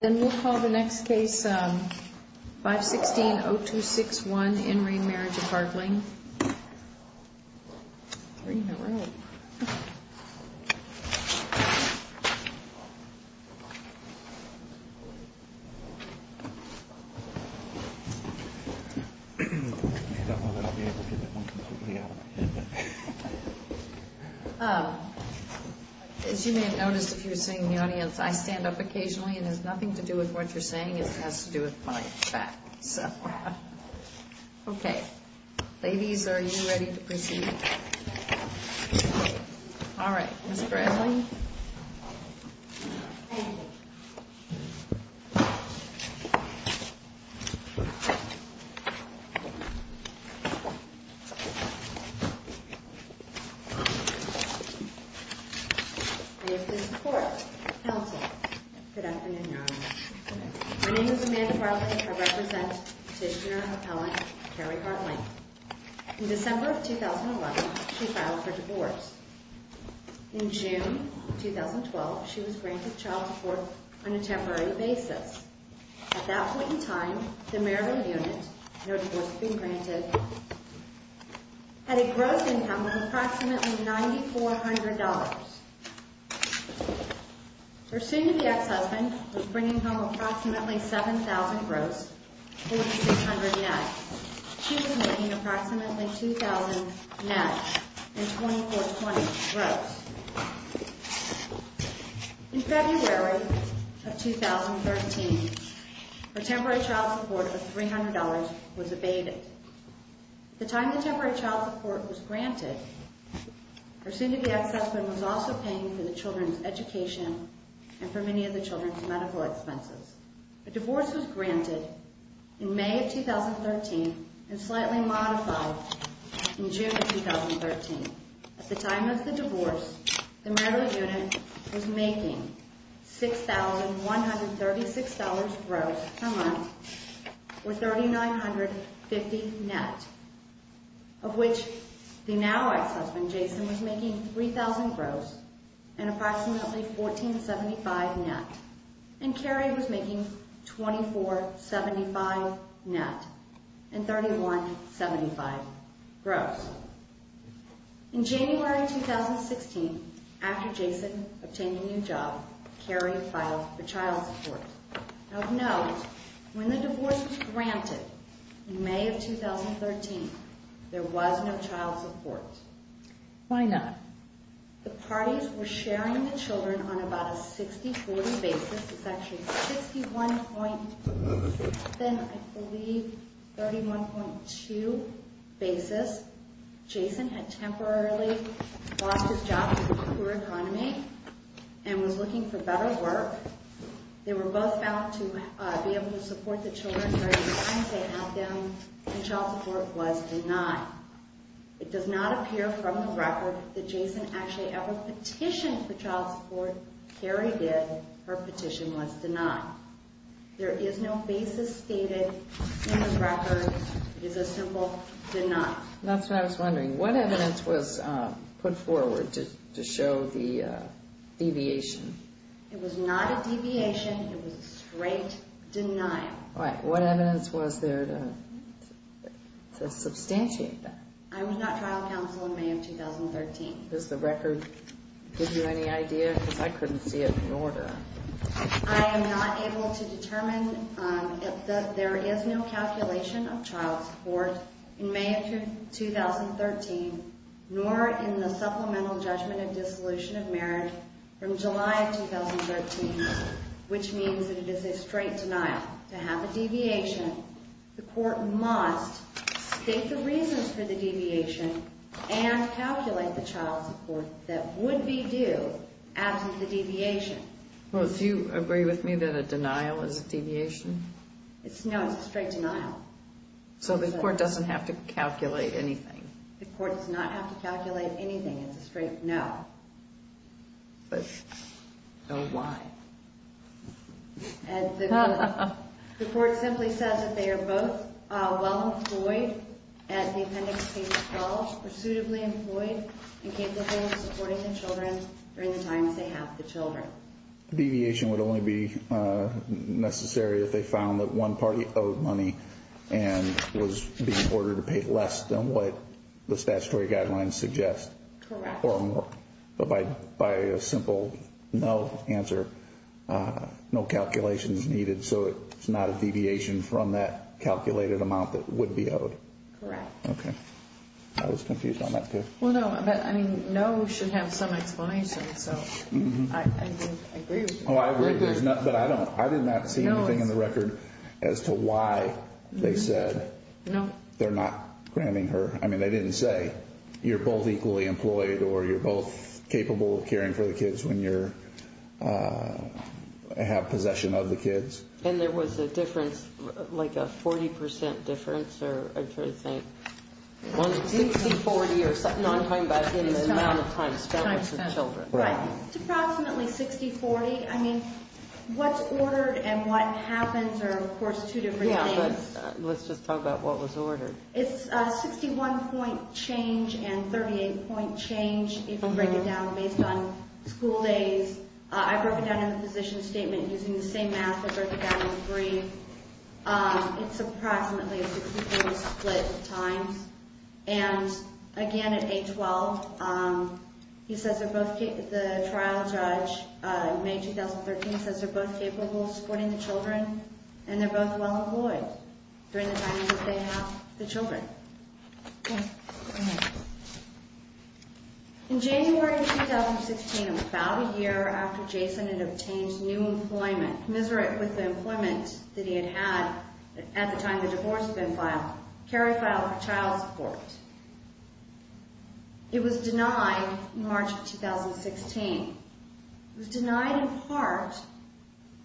Then we'll call the next case, 516-0261 in re Marriage of Haertling. Three in a row. I don't know that I'll be able to get that one completely out of my head. As you may have noticed if you were sitting in the audience, I stand up occasionally and it has nothing to do with what you're saying. It has to do with my back. So, okay, ladies, are you ready to proceed? All right, Ms. Bradley. I have the support of the council. Good afternoon, Your Honor. My name is Amanda Bradley. I represent Petitioner Appellant Carrie Haertling. In December of 2011, she filed for divorce. In June of 2012, she was granted child support on a temporary basis. At that point in time, the Maryland unit, no divorce had been granted, had a gross income of approximately $9,400. Her soon-to-be ex-husband was bringing home approximately 7,000 gross, 4,600 net. She was making approximately 2,000 net and 2420 gross. In February of 2013, her temporary child support of $300 was abated. The time the temporary child support was granted, her soon-to-be ex-husband was also paying for the children's education and for many of the children's medical expenses. The divorce was granted in May of 2013 and slightly modified in June of 2013. At the time of the divorce, the Maryland unit was making $6,136 gross per month or 3,950 net, of which the now ex-husband, Jason, was making 3,000 gross and approximately 1,475 net. And Carrie was making 2,475 net and 3,175 gross. In January 2016, after Jason obtained a new job, Carrie filed for child support. Of note, when the divorce was granted in May of 2013, there was no child support. Why not? The parties were sharing the children on about a 60-40 basis. It's actually 61.7, I believe, 31.2 basis. Jason had temporarily lost his job to the poor economy and was looking for better work. They were both bound to be able to support the children during the times they had them, and child support was denied. It does not appear from the record that Jason actually ever petitioned for child support. Carrie did. Her petition was denied. There is no basis stated in the record. It is a simple denied. That's what I was wondering. What evidence was put forward to show the deviation? It was not a deviation. It was a straight denial. All right. What evidence was there to substantiate that? I was not trial counsel in May of 2013. Does the record give you any idea? Because I couldn't see it in order. I am not able to determine that there is no calculation of child support in May of 2013, nor in the Supplemental Judgment of Dissolution of Marriage from July of 2013, which means that it is a straight denial. To have a deviation, the court must state the reasons for the deviation and calculate the child support that would be due after the deviation. Do you agree with me that a denial is a deviation? No, it's a straight denial. So the court doesn't have to calculate anything? The court does not have to calculate anything. It's a straight no. So why? The court simply says that they are both well employed at the Appendix C College, pursuatively employed, and capable of supporting their children during the times they have the children. So a deviation would only be necessary if they found that one party owed money and was being ordered to pay less than what the statutory guidelines suggest? Correct. But by a simple no answer, no calculation is needed, so it's not a deviation from that calculated amount that would be owed? Correct. I was confused on that too. Well, no. I mean, no should have some explanation, so I agree with you. I agree, but I did not see anything in the record as to why they said they're not granting her. I mean, they didn't say you're both equally employed or you're both capable of caring for the kids when you have possession of the kids. And there was a difference, like a 40% difference, or I'm trying to think. 60-40 or something like that in the amount of time spent with the children. Right. It's approximately 60-40. I mean, what's ordered and what happens are, of course, two different things. Let's just talk about what was ordered. It's a 61-point change and a 38-point change. You can break it down based on school days. I broke it down in the position statement using the same math that broke it down in the brief. It's approximately a 61 split times. And, again, at age 12, he says they're both, the trial judge, May 2013, says they're both capable of supporting the children. And they're both well-employed during the time that they have the children. In January 2016, about a year after Jason had obtained new employment, commiserate with the employment that he had had at the time the divorce had been filed, Carrie filed for child support. It was denied in March of 2016. It was denied in part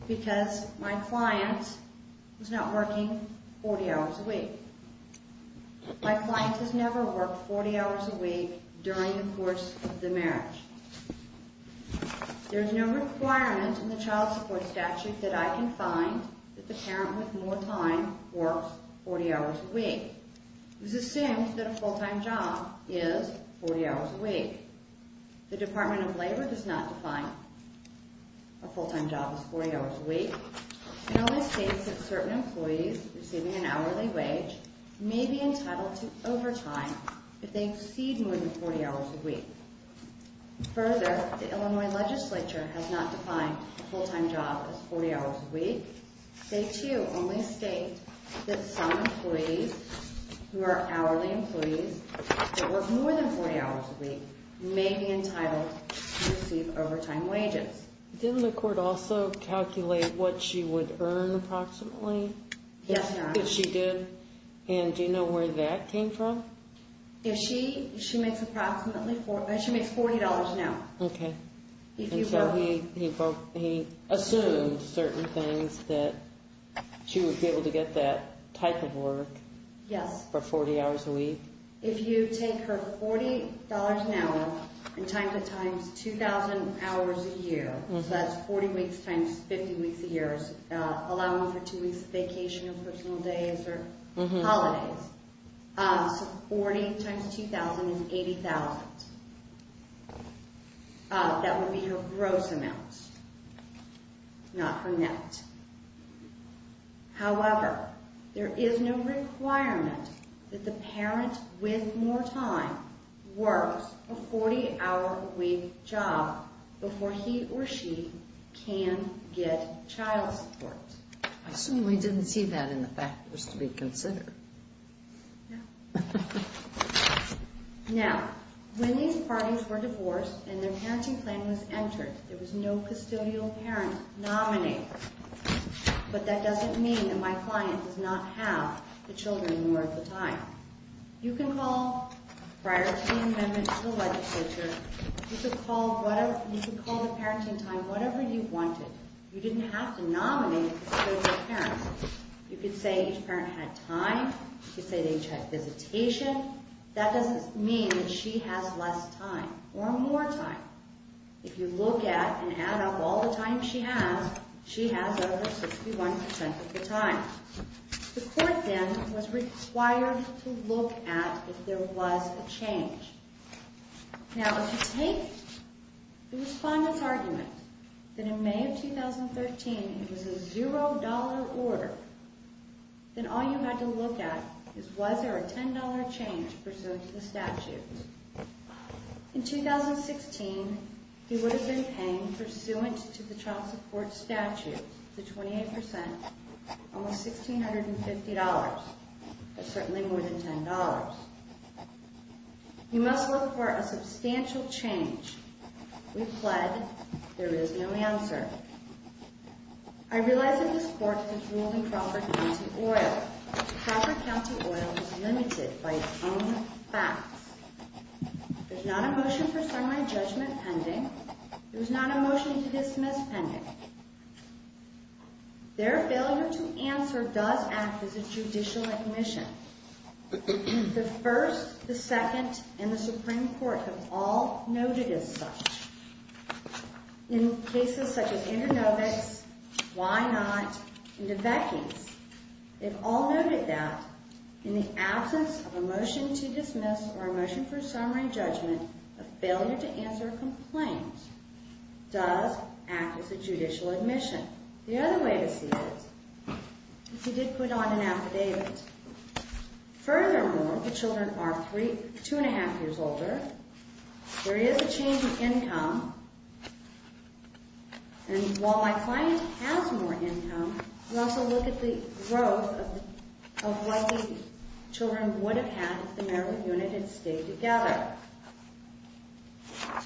because my client was not working 40 hours a week. My client has never worked 40 hours a week during the course of the marriage. There's no requirement in the child support statute that I can find that the parent with more time works 40 hours a week. It was assumed that a full-time job is 40 hours a week. The Department of Labor does not define a full-time job as 40 hours a week. It only states that certain employees receiving an hourly wage may be entitled to overtime if they exceed more than 40 hours a week. Further, the Illinois legislature has not defined a full-time job as 40 hours a week. They, too, only state that some employees who are hourly employees that work more than 40 hours a week may be entitled to receive overtime wages. Didn't the court also calculate what she would earn approximately? Yes, ma'am. She did? And do you know where that came from? She makes approximately $40 an hour. Okay. And so he assumed certain things that she would be able to get that type of work for 40 hours a week? If you take her $40 an hour and times it times 2,000 hours a year, so that's 40 weeks times 50 weeks a year, allowing for two weeks of vacation or personal days or holidays, so 40 times 2,000 is 80,000. That would be her gross amount, not her net. However, there is no requirement that the parent with more time works a 40-hour-a-week job before he or she can get child support. I assume we didn't see that in the factors to be considered. No. Now, when these parties were divorced and their parenting plan was entered, there was no custodial parent nominated. But that doesn't mean that my client does not have the children more of the time. You can call prior to the amendment to the legislature. You could call the parenting time whatever you wanted. You didn't have to nominate a custodial parent. You could say each parent had time. You could say each had visitation. That doesn't mean that she has less time or more time. If you look at and add up all the time she has, she has over 61% of the time. The court then was required to look at if there was a change. Now, if you take the respondent's argument that in May of 2013, it was a $0 order, then all you had to look at is was there a $10 change pursuant to the statute. In 2016, he would have been paying pursuant to the child support statute, the 28%, almost $1,650, but certainly more than $10. You must look for a substantial change. We pled there is no answer. I realize that this court has ruled in Crawford County Oil. Crawford County Oil is limited by its own facts. There's not a motion for semi-judgment pending. There's not a motion to dismiss pending. Their failure to answer does act as a judicial admission. The first, the second, and the Supreme Court have all noted as such. In cases such as Andronovic's, Why Not?, and DeVecky's, they've all noted that in the absence of a motion to dismiss or a motion for semi-judgment, a failure to answer a complaint does act as a judicial admission. The other way to see it is he did put on an affidavit. Furthermore, the children are two and a half years older. There is a change in income. And while my client has more income, we also look at the growth of what the children would have had if the marital unit had stayed together.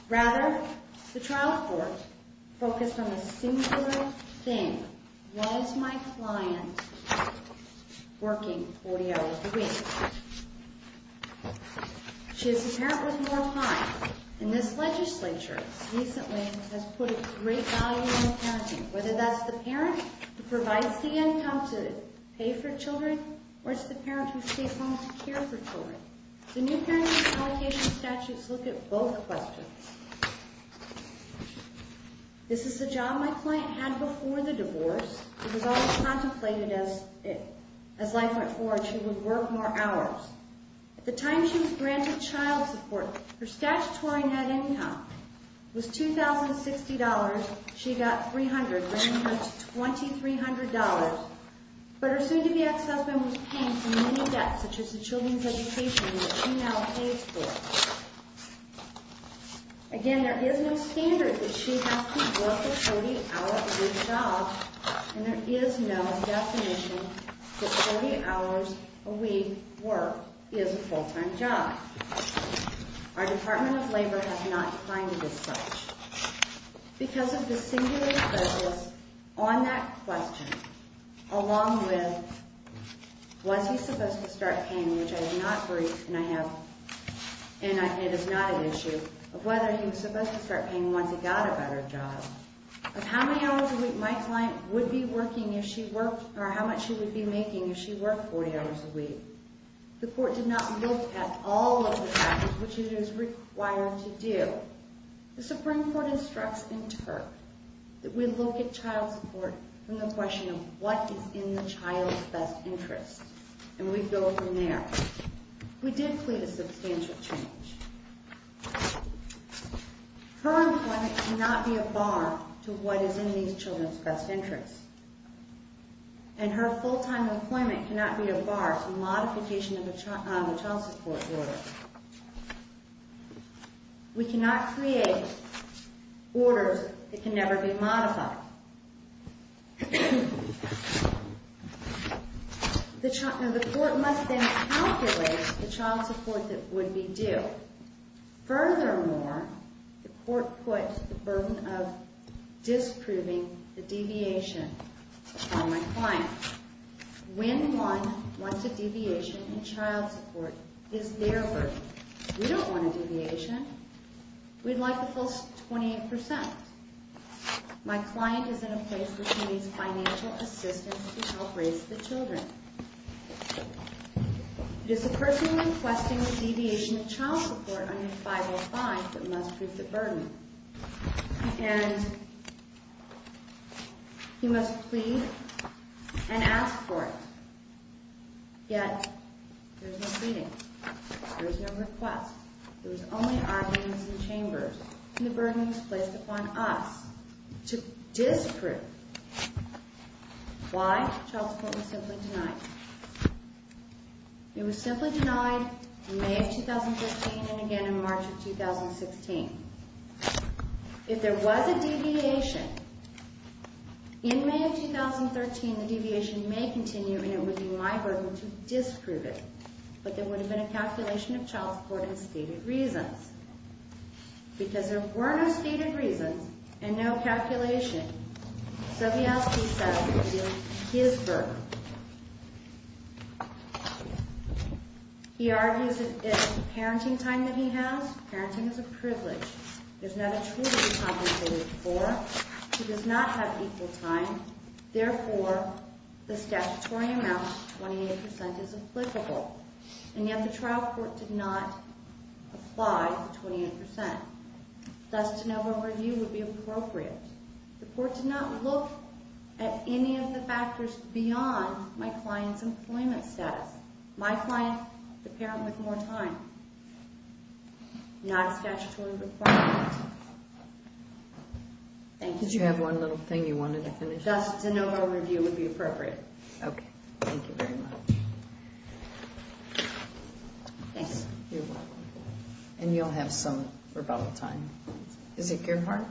Rather, the trial court focused on a singular thing. Why is my client working 40 hours a week? She is a parent with more time. And this legislature recently has put a great value on parenting. Whether that's the parent who provides the income to pay for children, or it's the parent who stays home to care for children. The new parenting allocation statutes look at both questions. This is the job my client had before the divorce. It was always contemplated as life went forward, she would work more hours. At the time she was granted child support, her statutory net income was $2,060. She got $300, bringing her to $2,300. But her soon-to-be ex-husband was paying for many debts, such as the children's education that she now pays for. Again, there is no standard that she has to work a 40-hour-a-week job. And there is no definition that 40 hours a week work is a full-time job. Our Department of Labor has not defined it as such. Because of the singular focus on that question, along with, was he supposed to start paying, which I do not agree, and it is not an issue, of whether he was supposed to start paying once he got a better job, of how many hours a week my client would be working if she worked, or how much she would be making if she worked 40 hours a week, the court did not look at all of the factors which it is required to do. The Supreme Court instructs in TURP that we look at child support from the question of what is in the child's best interest. And we go from there. We did plead a substantial change. Her employment cannot be a bar to what is in these children's best interests. And her full-time employment cannot be a bar to modification of the child support order. We cannot create orders that can never be modified. The court must then calculate the child support that would be due. Furthermore, the court puts the burden of disproving the deviation from my client. When one wants a deviation in child support, it is their burden. We don't want a deviation. We'd like the full 28%. My client is in a place where she needs financial assistance to help raise the children. It is the person requesting a deviation in child support under 505 that must prove the burden. And he must plead and ask for it. Yet, there's no pleading. There's no request. There's only arguments in chambers. And the burden is placed upon us to disprove. Why? Child support was simply denied. It was simply denied in May of 2015 and again in March of 2016. If there was a deviation, in May of 2013, the deviation may continue and it would be my burden to disprove it. But there would have been a calculation of child support and stated reasons. Because there were no stated reasons and no calculation, Sobielski says it would be his burden. He argues it's a parenting time that he has. Parenting is a privilege. He does not have a child to be compensated for. He does not have equal time. Therefore, the statutory amount, 28%, is applicable. And yet, the trial court did not apply the 28%. Thus, de novo review would be appropriate. The court did not look at any of the factors beyond my client's employment status. My client, the parent with more time. Not a statutory requirement. Thank you. Did you have one little thing you wanted to finish? Thus, de novo review would be appropriate. Okay, thank you very much. Thanks. You're welcome. And you'll have some rebuttal time. Is it Gerhardt?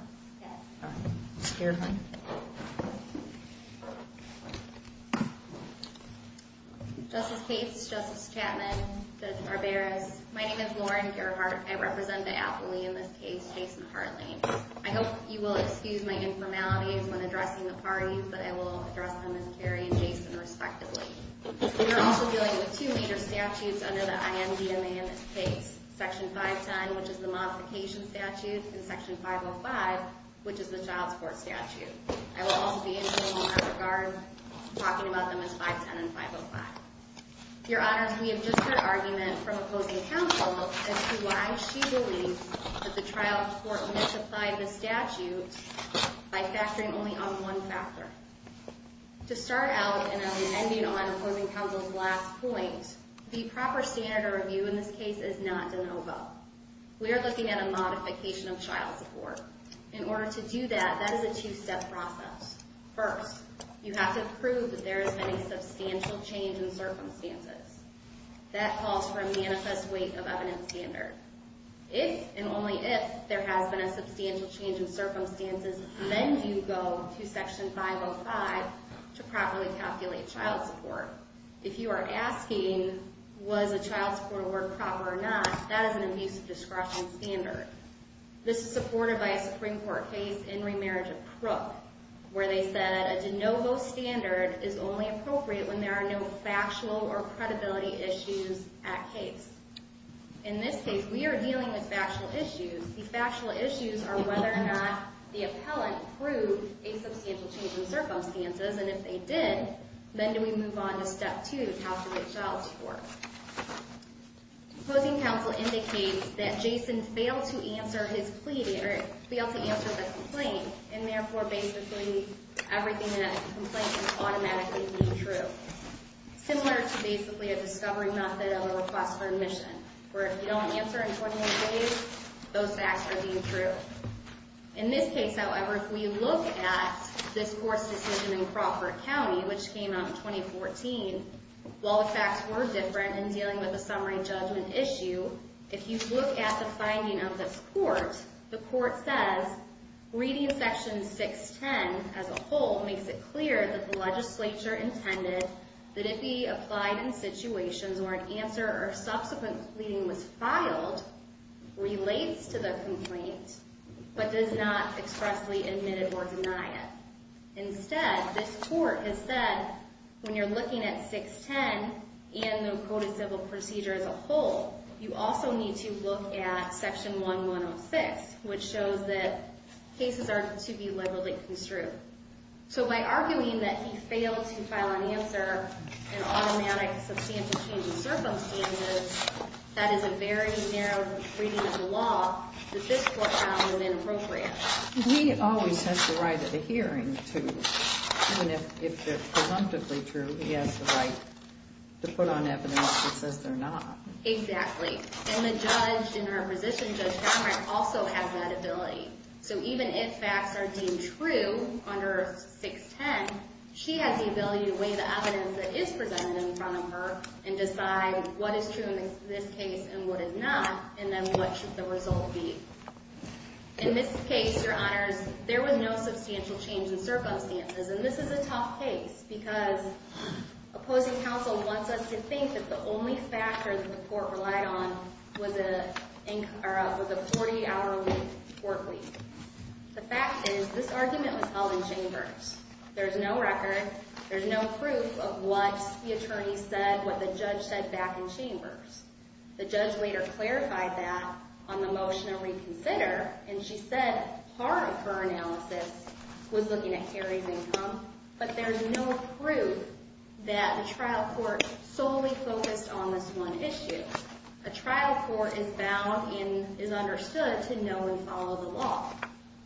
Gerhardt. Justice Cates, Justice Chapman, Judge Barberis, my name is Lauren Gerhardt. I represent the affilee in this case, Jason Hartley. I hope you will excuse my informalities when addressing the parties, but I will address them as Kerry and Jason, respectively. We are also dealing with two major statutes under the IMDMA in this case. Section 510, which is the modification statute, and Section 505, which is the child support statute. I will also be intervening in that regard, talking about them as 510 and 505. Your Honors, we have just heard argument from opposing counsel as to why she believes that the trial court misapplied the statute by factoring only on one factor. To start out, and I'll be ending on opposing counsel's last point, the proper standard of review in this case is not de novo. We are looking at a modification of child support. In order to do that, that is a two-step process. First, you have to prove that there has been a substantial change in circumstances. That calls for a manifest weight of evidence standard. If, and only if, there has been a substantial change in circumstances, then you go to Section 505 to properly calculate child support. If you are asking, was the child support award proper or not, that is an abuse of discretion standard. As I said, a de novo standard is only appropriate when there are no factual or credibility issues at case. In this case, we are dealing with factual issues. The factual issues are whether or not the appellant proved a substantial change in circumstances, and if they did, then we move on to Step 2, how to get child support. Opposing counsel indicates that Jason failed to answer the complaint, and therefore basically everything in that complaint is automatically deemed true. Similar to basically a discovery method of a request for admission, where if you don't answer in 24 days, those facts are deemed true. In this case, however, if we look at this court's decision in Crawford County, which came out in 2014, while the facts were different in dealing with the summary judgment issue, if you look at the finding of this court, the court says, reading Section 610 as a whole makes it clear that the legislature intended that if he applied in situations where an answer or subsequent pleading was filed, relates to the complaint, but does not expressly admit it or deny it. Instead, this court has said, when you're looking at 610 and the coded civil procedure as a whole, you also need to look at Section 1106, which shows that cases are to be legally construed. So by arguing that he failed to file an answer in automatic substantial change in circumstances, that is a very narrow reading of the law that this court found was inappropriate. He always has the right at a hearing to, even if they're presumptively true, he has the right to put on evidence that says they're not. Exactly. And the judge in her position, Judge Cameron, also has that ability. So even if facts are deemed true under 610, she has the ability to weigh the evidence that is presented in front of her and decide what is true in this case and what is not, and then what should the result be. In this case, Your Honors, there was no substantial change in circumstances, and this is a tough case, because opposing counsel wants us to think that the only factor that the court relied on was a 40-hour court leave. The fact is, this argument was held in chambers. There's no record, there's no proof of what the attorney said, what the judge said back in chambers. The judge later clarified that on the motion to reconsider, and she said part of her analysis was looking at Harry's income, but there's no proof that the trial court solely focused on this one issue. A trial court is bound and is understood to know and follow the law.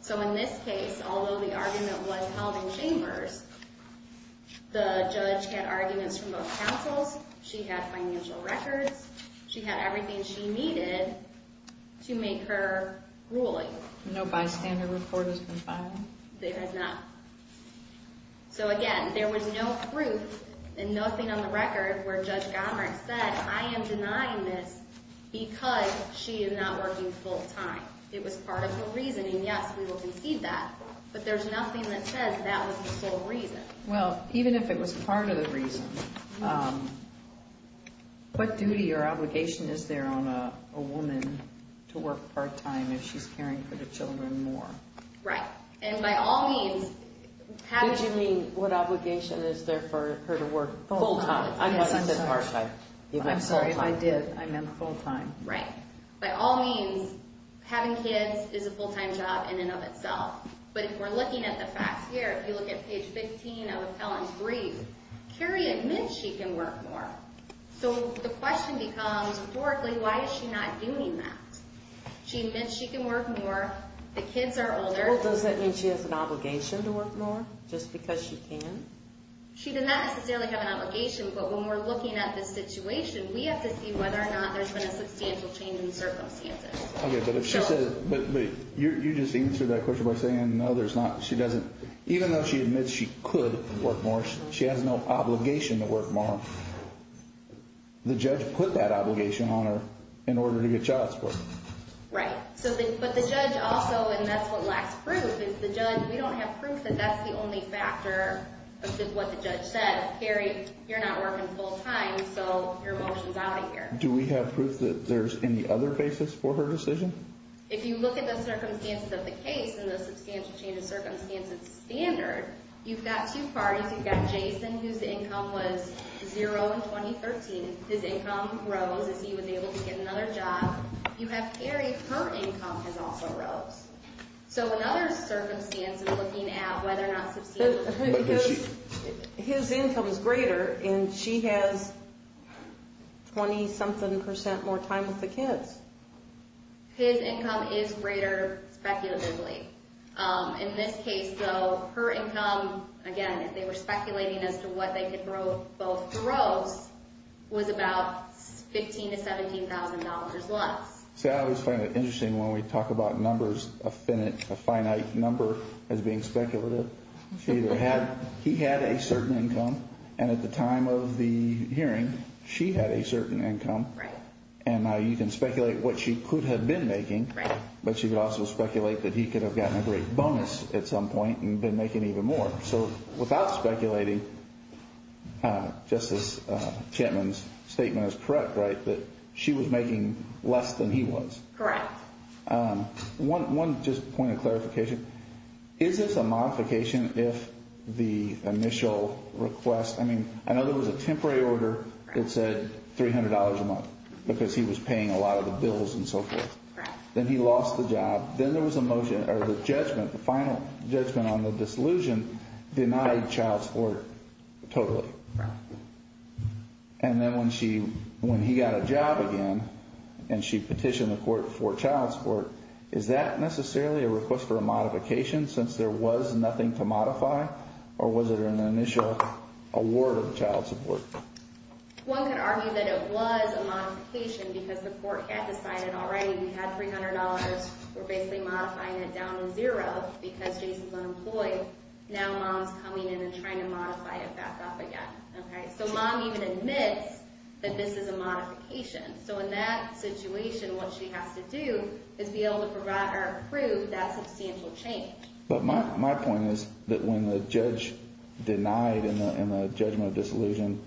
So in this case, although the argument was held in chambers, the judge had arguments from both counsels, she had financial records, she had everything she needed to make her ruling. No bystander report has been filed? It has not. So again, there was no proof and nothing on the record where Judge Gomert said, I am denying this because she is not working full-time. It was part of the reasoning. Yes, we will concede that, but there's nothing that says that was the sole reason. Well, even if it was part of the reason, what duty or obligation is there on a woman to work part-time if she's caring for the children more? Right. And by all means, what obligation is there for her to work full-time? I must have said part-time. I'm sorry if I did. I meant full-time. Right. By all means, having kids is a full-time job in and of itself. But if we're looking at the facts here, if you look at page 15 of Helen's brief, Carrie admits she can work more. So the question becomes, historically, why is she not doing that? She admits she can work more. The kids are older. Well, does that mean she has an obligation to work more just because she can? She does not necessarily have an obligation, but when we're looking at the situation, we have to see whether or not there's been a substantial change in circumstances. Okay, but if she says, but you just answered that question by saying, no, there's not. She doesn't. Even though she admits she could work more, she has no obligation to work more. The judge put that obligation on her in order to get child support. Right. But the judge also, and that's what lacks proof, is the judge, we don't have proof that that's the only factor of what the judge says. Carrie, you're not working full-time, so your motion's out of here. Do we have proof that there's any other basis for her decision? If you look at the circumstances of the case and the substantial change in circumstances standard, you've got two parties. You've got Jason, whose income was zero in 2013. His income rose as he was able to get another job. You have Carrie. So in other circumstances, looking at whether or not... His income is greater, and she has 20-something percent more time with the kids. His income is greater, speculatively. In this case, though, her income, again, they were speculating as to what they could both grow, was about $15,000 to $17,000 less. See, I always find it interesting when we talk about numbers, a finite number as being speculative. She either had... He had a certain income, and at the time of the hearing, she had a certain income. And you can speculate what she could have been making, but you could also speculate that he could have gotten a great bonus at some point and been making even more. So without speculating, Justice Chapman's statement is correct, right? That she was making less than he was. One just point of clarification. Is this a modification if the initial request... I mean, I know there was a temporary order that said $300 a month because he was paying a lot of the bills and so forth. Then he lost the job. Then there was a motion, or the judgment, the final judgment on the disillusion denied child support totally. And then when she... When he got a job again, and she petitioned the court for child support, is that necessarily a request for a modification since there was nothing to modify? Or was it an initial award of child support? One could argue that it was a modification because the court had decided already we had $300. We're basically modifying it down to zero because Jason's unemployed. Now Mom's coming in and trying to modify it back up again. So Mom even admits that this is a modification. In that situation, what she has to do is be able to prove that substantial change. But my point is that when the judge denied in the judgment of disillusion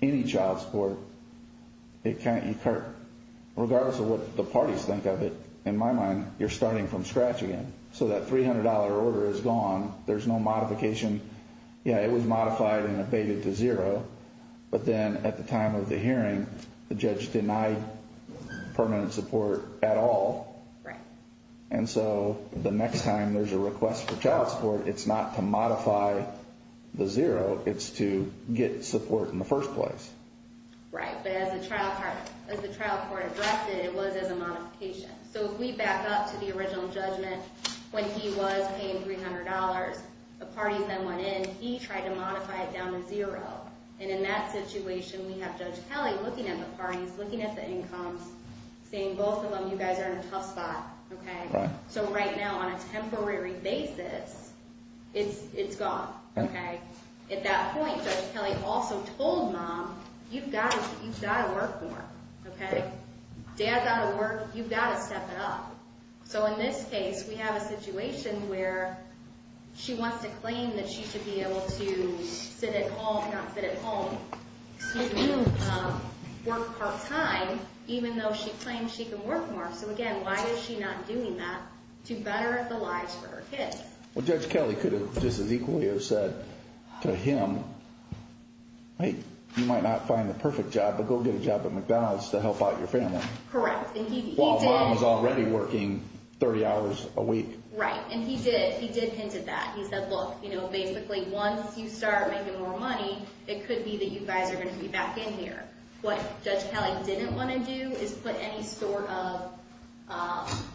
any child support, regardless of what the parties think of it, in my mind, you're starting from scratch again. So that $300 order is gone. There's no modification. Yeah, it was modified and abated to zero. But then at the time of the hearing, the judge denied permanent support at all. Right. And so the next time there's a request for child support, it's not to modify the zero. It's to get support in the first place. Right. But as the trial court addressed it, it was as a modification. So if we back up to the original judgment when he was paying $300, the parties then went in. He tried to modify it down to zero. And in that situation, he's looking at the parties, looking at the incomes, saying both of them, you guys are in a tough spot. So right now, on a temporary basis, it's gone. At that point, Judge Kelly also told Mom, you've got to work more. Dad's out of work. You've got to step it up. So in this case, we have a situation where she wants to claim that she should be able to sit at home, not sit at home. She should be able to work part-time even though she claims she can work more. So again, why is she not doing that to better the lives for her kids? Well, Judge Kelly could have just as equally have said to him, hey, you might not find the perfect job, but go get a job at McDonald's to help out your family. Correct. While Mom was already working 30 hours a week. Right. And he did. He did hint at that. He said, look, you're going to be back in here. What Judge Kelly didn't want to do is put any sort of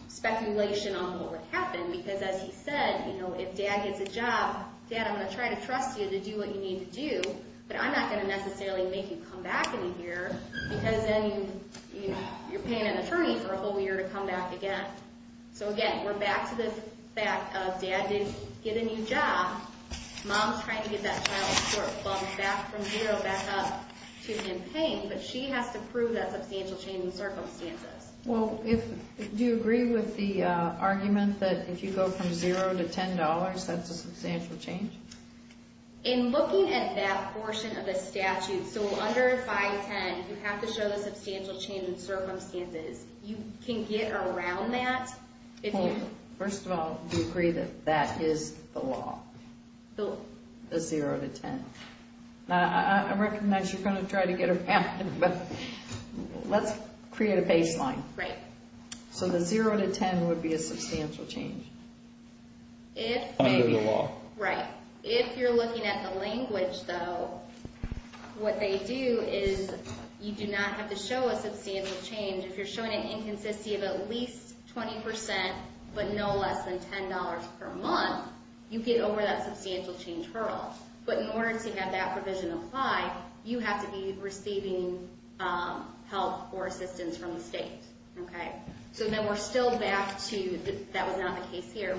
speculation on what would happen because as he said, if Dad gets a job, Dad, I'm going to try to trust you to do what you need to do, but I'm not going to necessarily make you come back in a year because then you're paying an attorney for a whole year to come back again. So again, we're back to the fact of Dad did get a new job. Mom's trying to get that child to continue paying, but she has to prove that substantial change in circumstances. Well, do you agree with the argument that if you go from zero to $10, that's a substantial change? In looking at that portion of the statute, so under 510, you have to show the substantial change in circumstances. You can get around that. First of all, do you agree that that is the law? The zero to 10. I recognize you're going to try to get around it, but let's create a baseline. Right. So the zero to 10 would be a substantial change. Under the law. Right. If you're looking at the language, though, what they do is you do not have to show a substantial change. If you're showing an inconsistency of at least 20%, but no less than $10 per month, unless you have that provision apply, you have to be receiving help or assistance from the state. So then we're still back to, that was not the case here,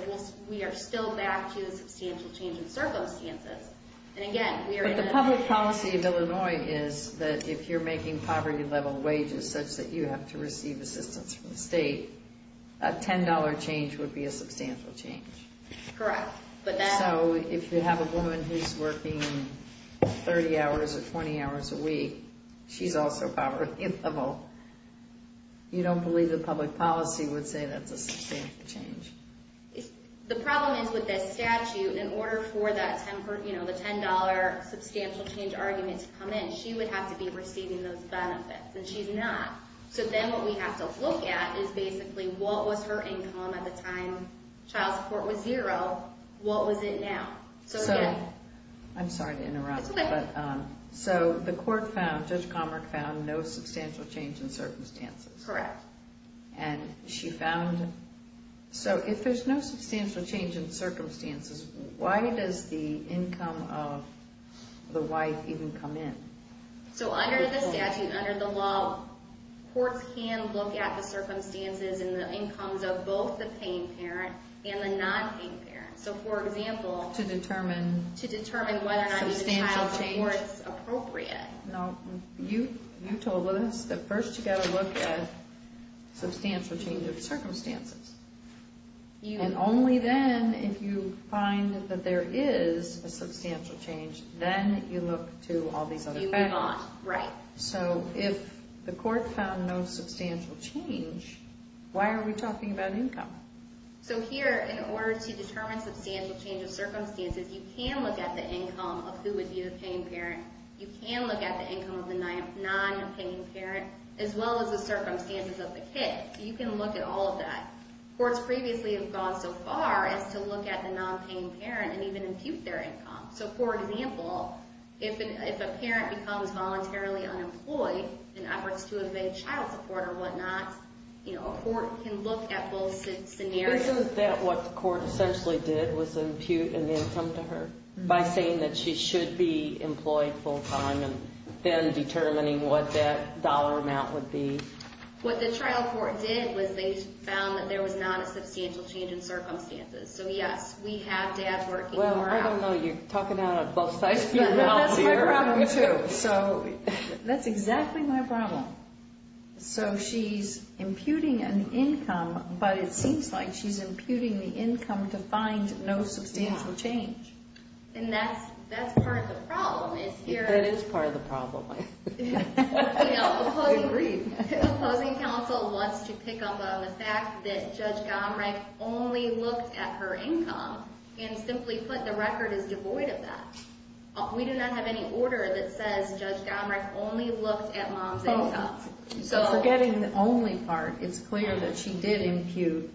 we are still back to the substantial change in circumstances. But the public policy of Illinois is that if you're making poverty level wages such that you have to receive assistance from the state, a $10 change would be a substantial change. If you're making 30 hours or 20 hours a week, she's also poverty level. You don't believe the public policy would say that's a substantial change. The problem is with this statute, in order for that, the $10 substantial change argument to come in, she would have to be receiving those benefits, and she's not. So then what we have to look at is basically what was her income at the time child support was zero, what was it now? I'm going around. So the court found, Judge Comerick found no substantial change in circumstances. Correct. And she found, so if there's no substantial change in circumstances, why does the income of the wife even come in? So under the statute, under the law, courts can look at the circumstances and the incomes of both the paying parent and the non-paying parent. So for example... To determine... To determine whether or not the child supports appropriate. No. You told us that first you've got to look at substantial change of circumstances. And only then, if you find that there is a substantial change, then you look to all these other factors. You move on. Right. So if the court found no substantial change, why are we talking about income? So here, in order to determine substantial change of circumstances, you can look at the income of who would be the paying parent. You can look at the income of the non-paying parent, as well as the circumstances of the kid. You can look at all of that. Courts previously have gone so far as to look at the non-paying parent and even impute their income. So for example, if a parent becomes voluntarily unemployed in efforts to evade child support or whatnot, a court can look at both scenarios. Isn't that what the court essentially did, was impute an income to her by saying that she should be employed full-time and then determining what that dollar amount would be? What the trial court did was they found that there was not a substantial change in circumstances. So yes, we have dads working more hours. Well, I don't know. You're talking out of both sides of your mouth here. That's my problem, too. That's exactly my problem. So she's imputing an income, but it seems like she's imputing the income to find no substantial change. And that's part of the problem. That is part of the problem. I agree. The opposing counsel wants to pick up on the fact that Judge Gomerich only looked at her income and simply put, the record is devoid of that. We do not have any order that says Judge Gomerich only looked at mom's income. So forgetting the only part, it's clear that she did impute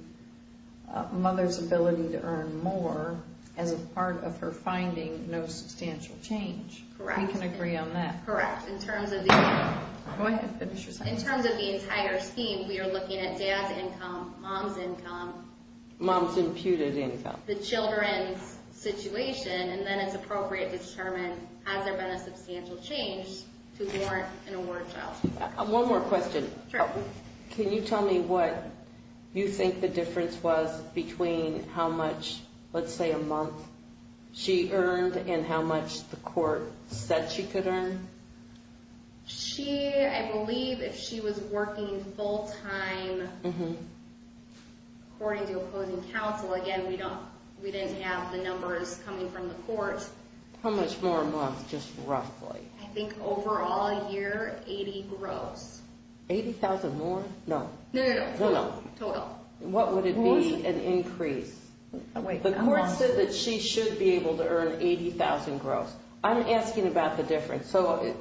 mother's ability to earn more as a part of her finding no substantial change. Correct. We can agree on that. Correct. Go ahead. Finish your sentence. In terms of the entire scheme, we are looking at dad's income, mom's income, mom's imputed income, the children's situation, and then it's appropriate to determine, has there been a substantial change to warrant an award child? One more question. Sure. Can you tell me what you think the difference was between how much, let's say a month, she earned and how much the court said she could earn? She, I believe, if she was working full time, according to opposing counsel, again, we don't, we didn't have the numbers coming from the court. How much more a month, just roughly? I think overall a year, 80 gross. 80,000 more? No. No, no, no. Total. What would it be an increase? A month. The court said that she should be able to earn 80,000 gross. I'm asking about the difference. So,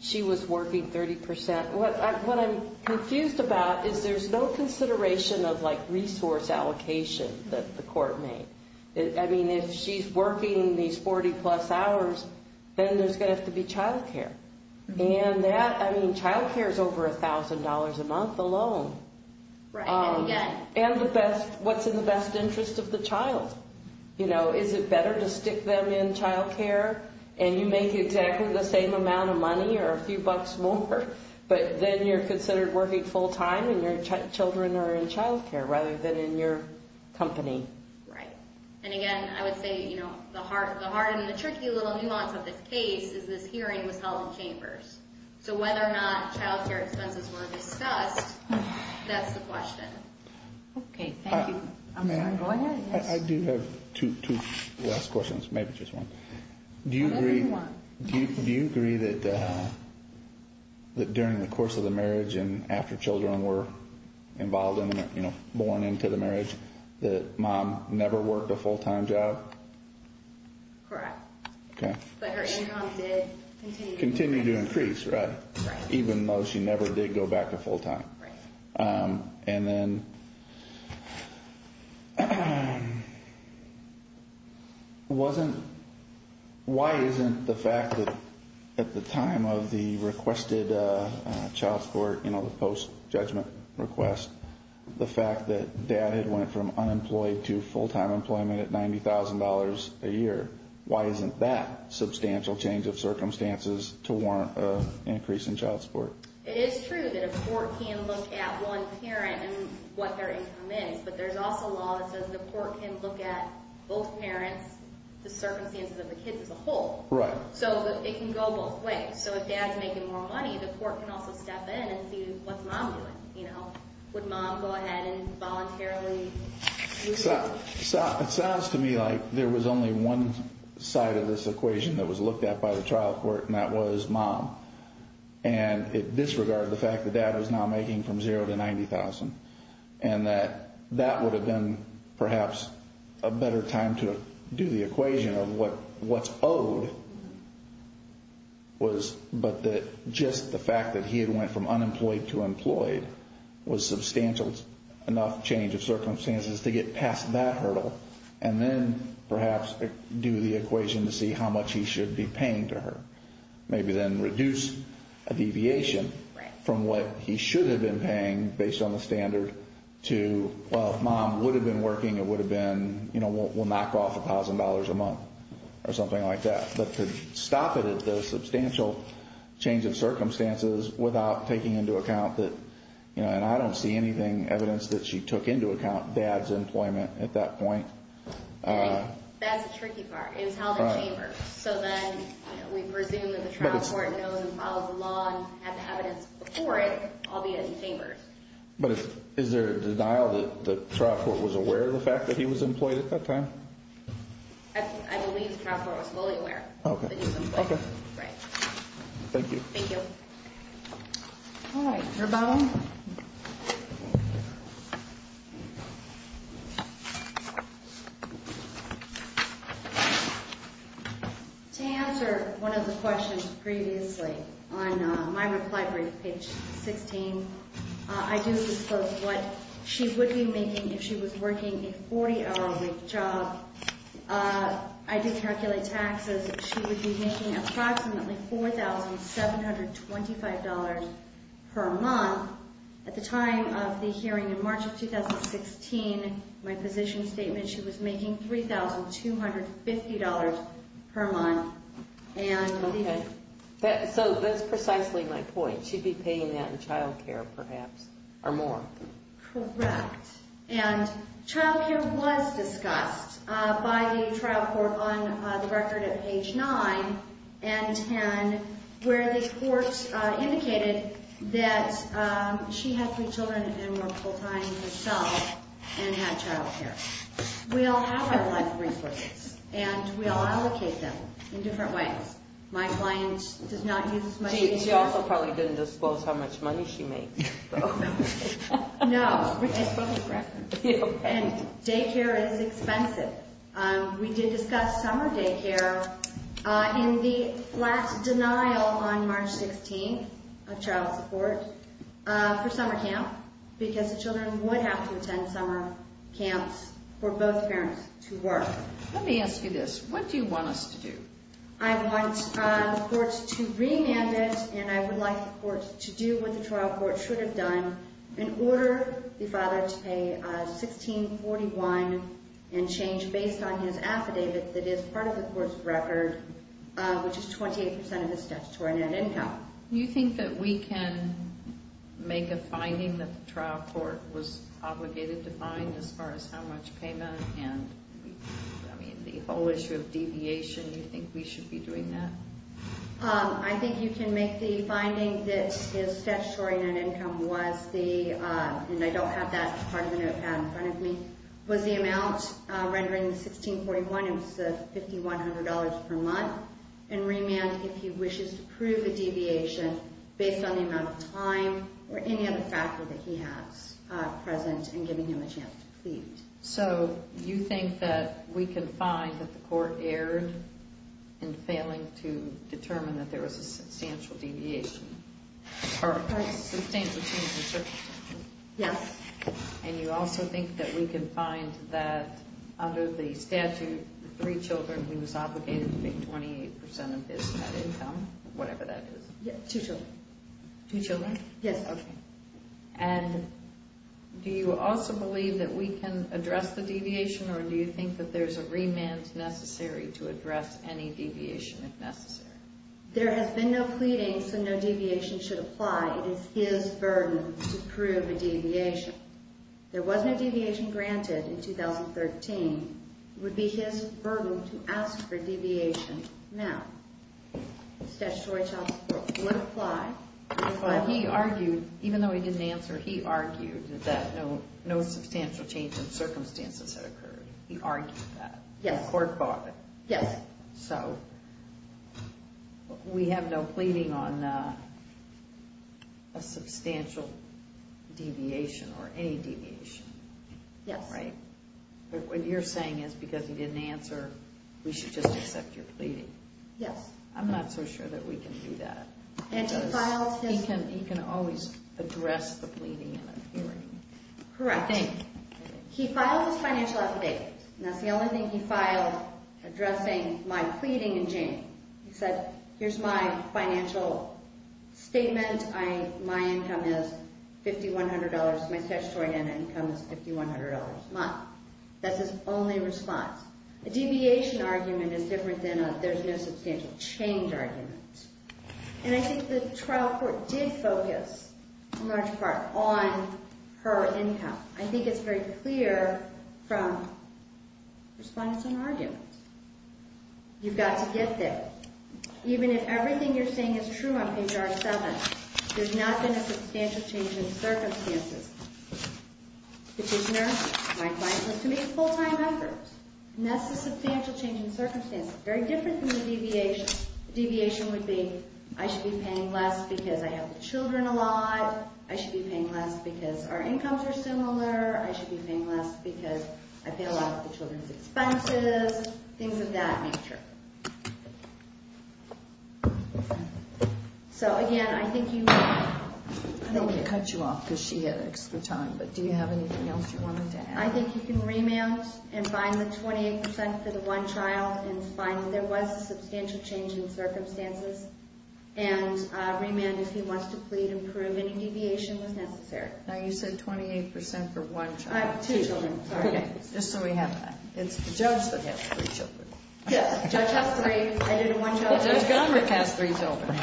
she was working 30%. What I'm confused about is there's no consideration of like resource allocation that the court made. I mean, if she's working these 40 plus hours, then there's going to have to be child care. And that, I mean, child care is over $1,000 a month alone. Right, and again. And the best, what's in the best interest of the child? You know, is it better to stick them in child care and you make exactly the same amount of money or a few bucks more? But then you're considered working full time and your children are in child care rather than in your company. Right. And again, I would say, you know, the hard and the tricky little nuance of this case is this hearing was held in chambers. So whether or not child care expenses were discussed, that's the question. Okay, thank you. I'm sorry. Go ahead, yes. I do have two last questions, maybe just one. Whatever you want. Do you agree that during the course of the marriage and after children were involved in it, you know, born into the marriage, that mom never worked a full time job? Correct. Okay. But her income did continue to increase. Continue to increase, right. Right. Even though she never did go back to full time. Right. And then wasn't, why isn't the fact that at the time of the requested child support, you know, the post judgment request, the fact that dad had went from unemployed to full time employment at $90,000 a year, why isn't that a substantial change of circumstances to warrant an increase in child support? It is true that a court can look at one parent and what their income is, but there's also a law that says the court can look at both parents, the circumstances of the kids as a whole. Right. So it can go both ways. So if dad's making more money, the court can also step in and see what's mom doing, you know. Would mom go ahead and voluntarily lose the money? It sounds to me like there was only one side of this equation that was looked at by the trial court and that was mom. And it disregarded the fact that dad was now making from zero to $90,000. And that that would have been perhaps a better time to do the equation of what's owed was, but that just the fact that he had went from unemployed to employed was substantial enough change of circumstances to get past that hurdle. And then perhaps do the equation to see how much he should be paying to her. Maybe then reduce a deviation from what he should have been paying based on the standard to, well, mom would have been working, it would have been, you know, we'll knock off $1,000 a month or something like that. But to stop it at the substantial change of circumstances without taking into account that, you know, and I don't see anything evidence that she took into account dad's employment at that point. Right. That's the tricky part. It was held in chambers. So then we presume that the trial court knows and follows the law and has evidence before it, albeit in chambers. But is there a denial that the trial court was aware of the fact that he was employed at that time? I believe the trial court was fully aware that he was employed. Okay. Right. Thank you. Thank you. Alright, your bone. To answer one of the questions previously on my reply brief, page 16, I do disclose what she would be making if she was working a 40-hour-a-week She would be making approximately $4,725 per month for a 40-hour-a-week job. And she would be making approximately at the time of the hearing in March of 2016, my position statement, she was making $3,250 per month. Okay. So that's precisely my point. She'd be paying that in child care perhaps or more. Correct. And child care was discussed by the trial court on the record at page 9 and 10 where the court indicated that she had three children and were full-time herself and had child care. We all have our life resources and we all allocate them in different ways. My client does not use as much day care. She also probably didn't disclose how much money she makes. No. Day care is expensive. We did discuss summer day care in the flat denial on March 16th of child support for summer camp because the children would have to attend summer camps for both parents to work. Let me ask you this. What do you want us to do? I want the court to remand it and I would like the court to do what the trial court should have done and order the father to pay $16.41 and change based on his affidavit that is part of the court's record which is 28% of his statutory net income. Do you think that we can make a finding that the trial court was obligated to find as far as how much payment and the whole issue of deviation? Do you think we should be doing that? I think you can make the finding that his statutory net income was the, and I don't have that part of the notepad in front of me, was the amount rendering $16.41 which is $5,100 per month and remand if he wishes to prove a deviation based on the amount of time or any other factor that he has present and giving him a chance to plead. So, you think that we can find that the court erred in failing to determine that there was a substantial deviation? Yes. And you also think that we can find that under the statute three children he was obligated to pay 28% of his net income, whatever that is? Yes, two children. Two children? Yes. Okay. And do you also believe that we can address the deviation or do you think that there is a remand necessary to address any deviation if necessary? There has been no pleading so no deviation should apply. It is his burden to prove a deviation. There was no deviation granted in 2013. It would be his burden to ask for deviation now. The statutory child support would apply. He argued, even though he didn't answer, he argued that no substantial change in circumstances had occurred. He argued that. Yes. The court bought it. Yes. So, we have no pleading on a substantial deviation or any deviation. Yes. Right? What you're saying is that because he didn't answer, we should just accept your pleading. Yes. I'm not so sure that we can do that. He can always address the pleading in a hearing. Correct. He filed his financial affidavit. That's the only thing he filed addressing my pleading in January. He said, here's my financial statement. My income is $5,100. My statutory income is $5,100. to ask for any response. A deviation argument is different than a there's no substantial change argument. And I think the trial court did focus, in large part, on her income. I think it's very clear from response and argument. You've got to get there. Even if everything you're saying is true on page R7, there's not been a substantial change in circumstances. Petitioner, my client was to make full-time efforts. And that's the substantial change in circumstances. Very different than the deviation. The deviation would be, I should be paying less because I help the children a lot. I should be paying less because our incomes are so much better. And I think you can remand and find the 28% for the one child and find that there was a substantial change in circumstances. And remand if he wants to plead and prove any deviation was necessary. Now you said 28% for one child. Two children. Just so we have that. It's the judge that has three children. Judge has three. Judge has three children.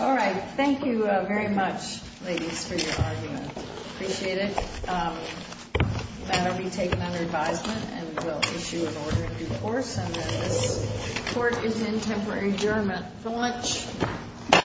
All right. Thank you very much ladies for your argument. I appreciate it. That will be taken under advisement and we'll issue an order in due course and then this court is in temporary adjournment for lunch.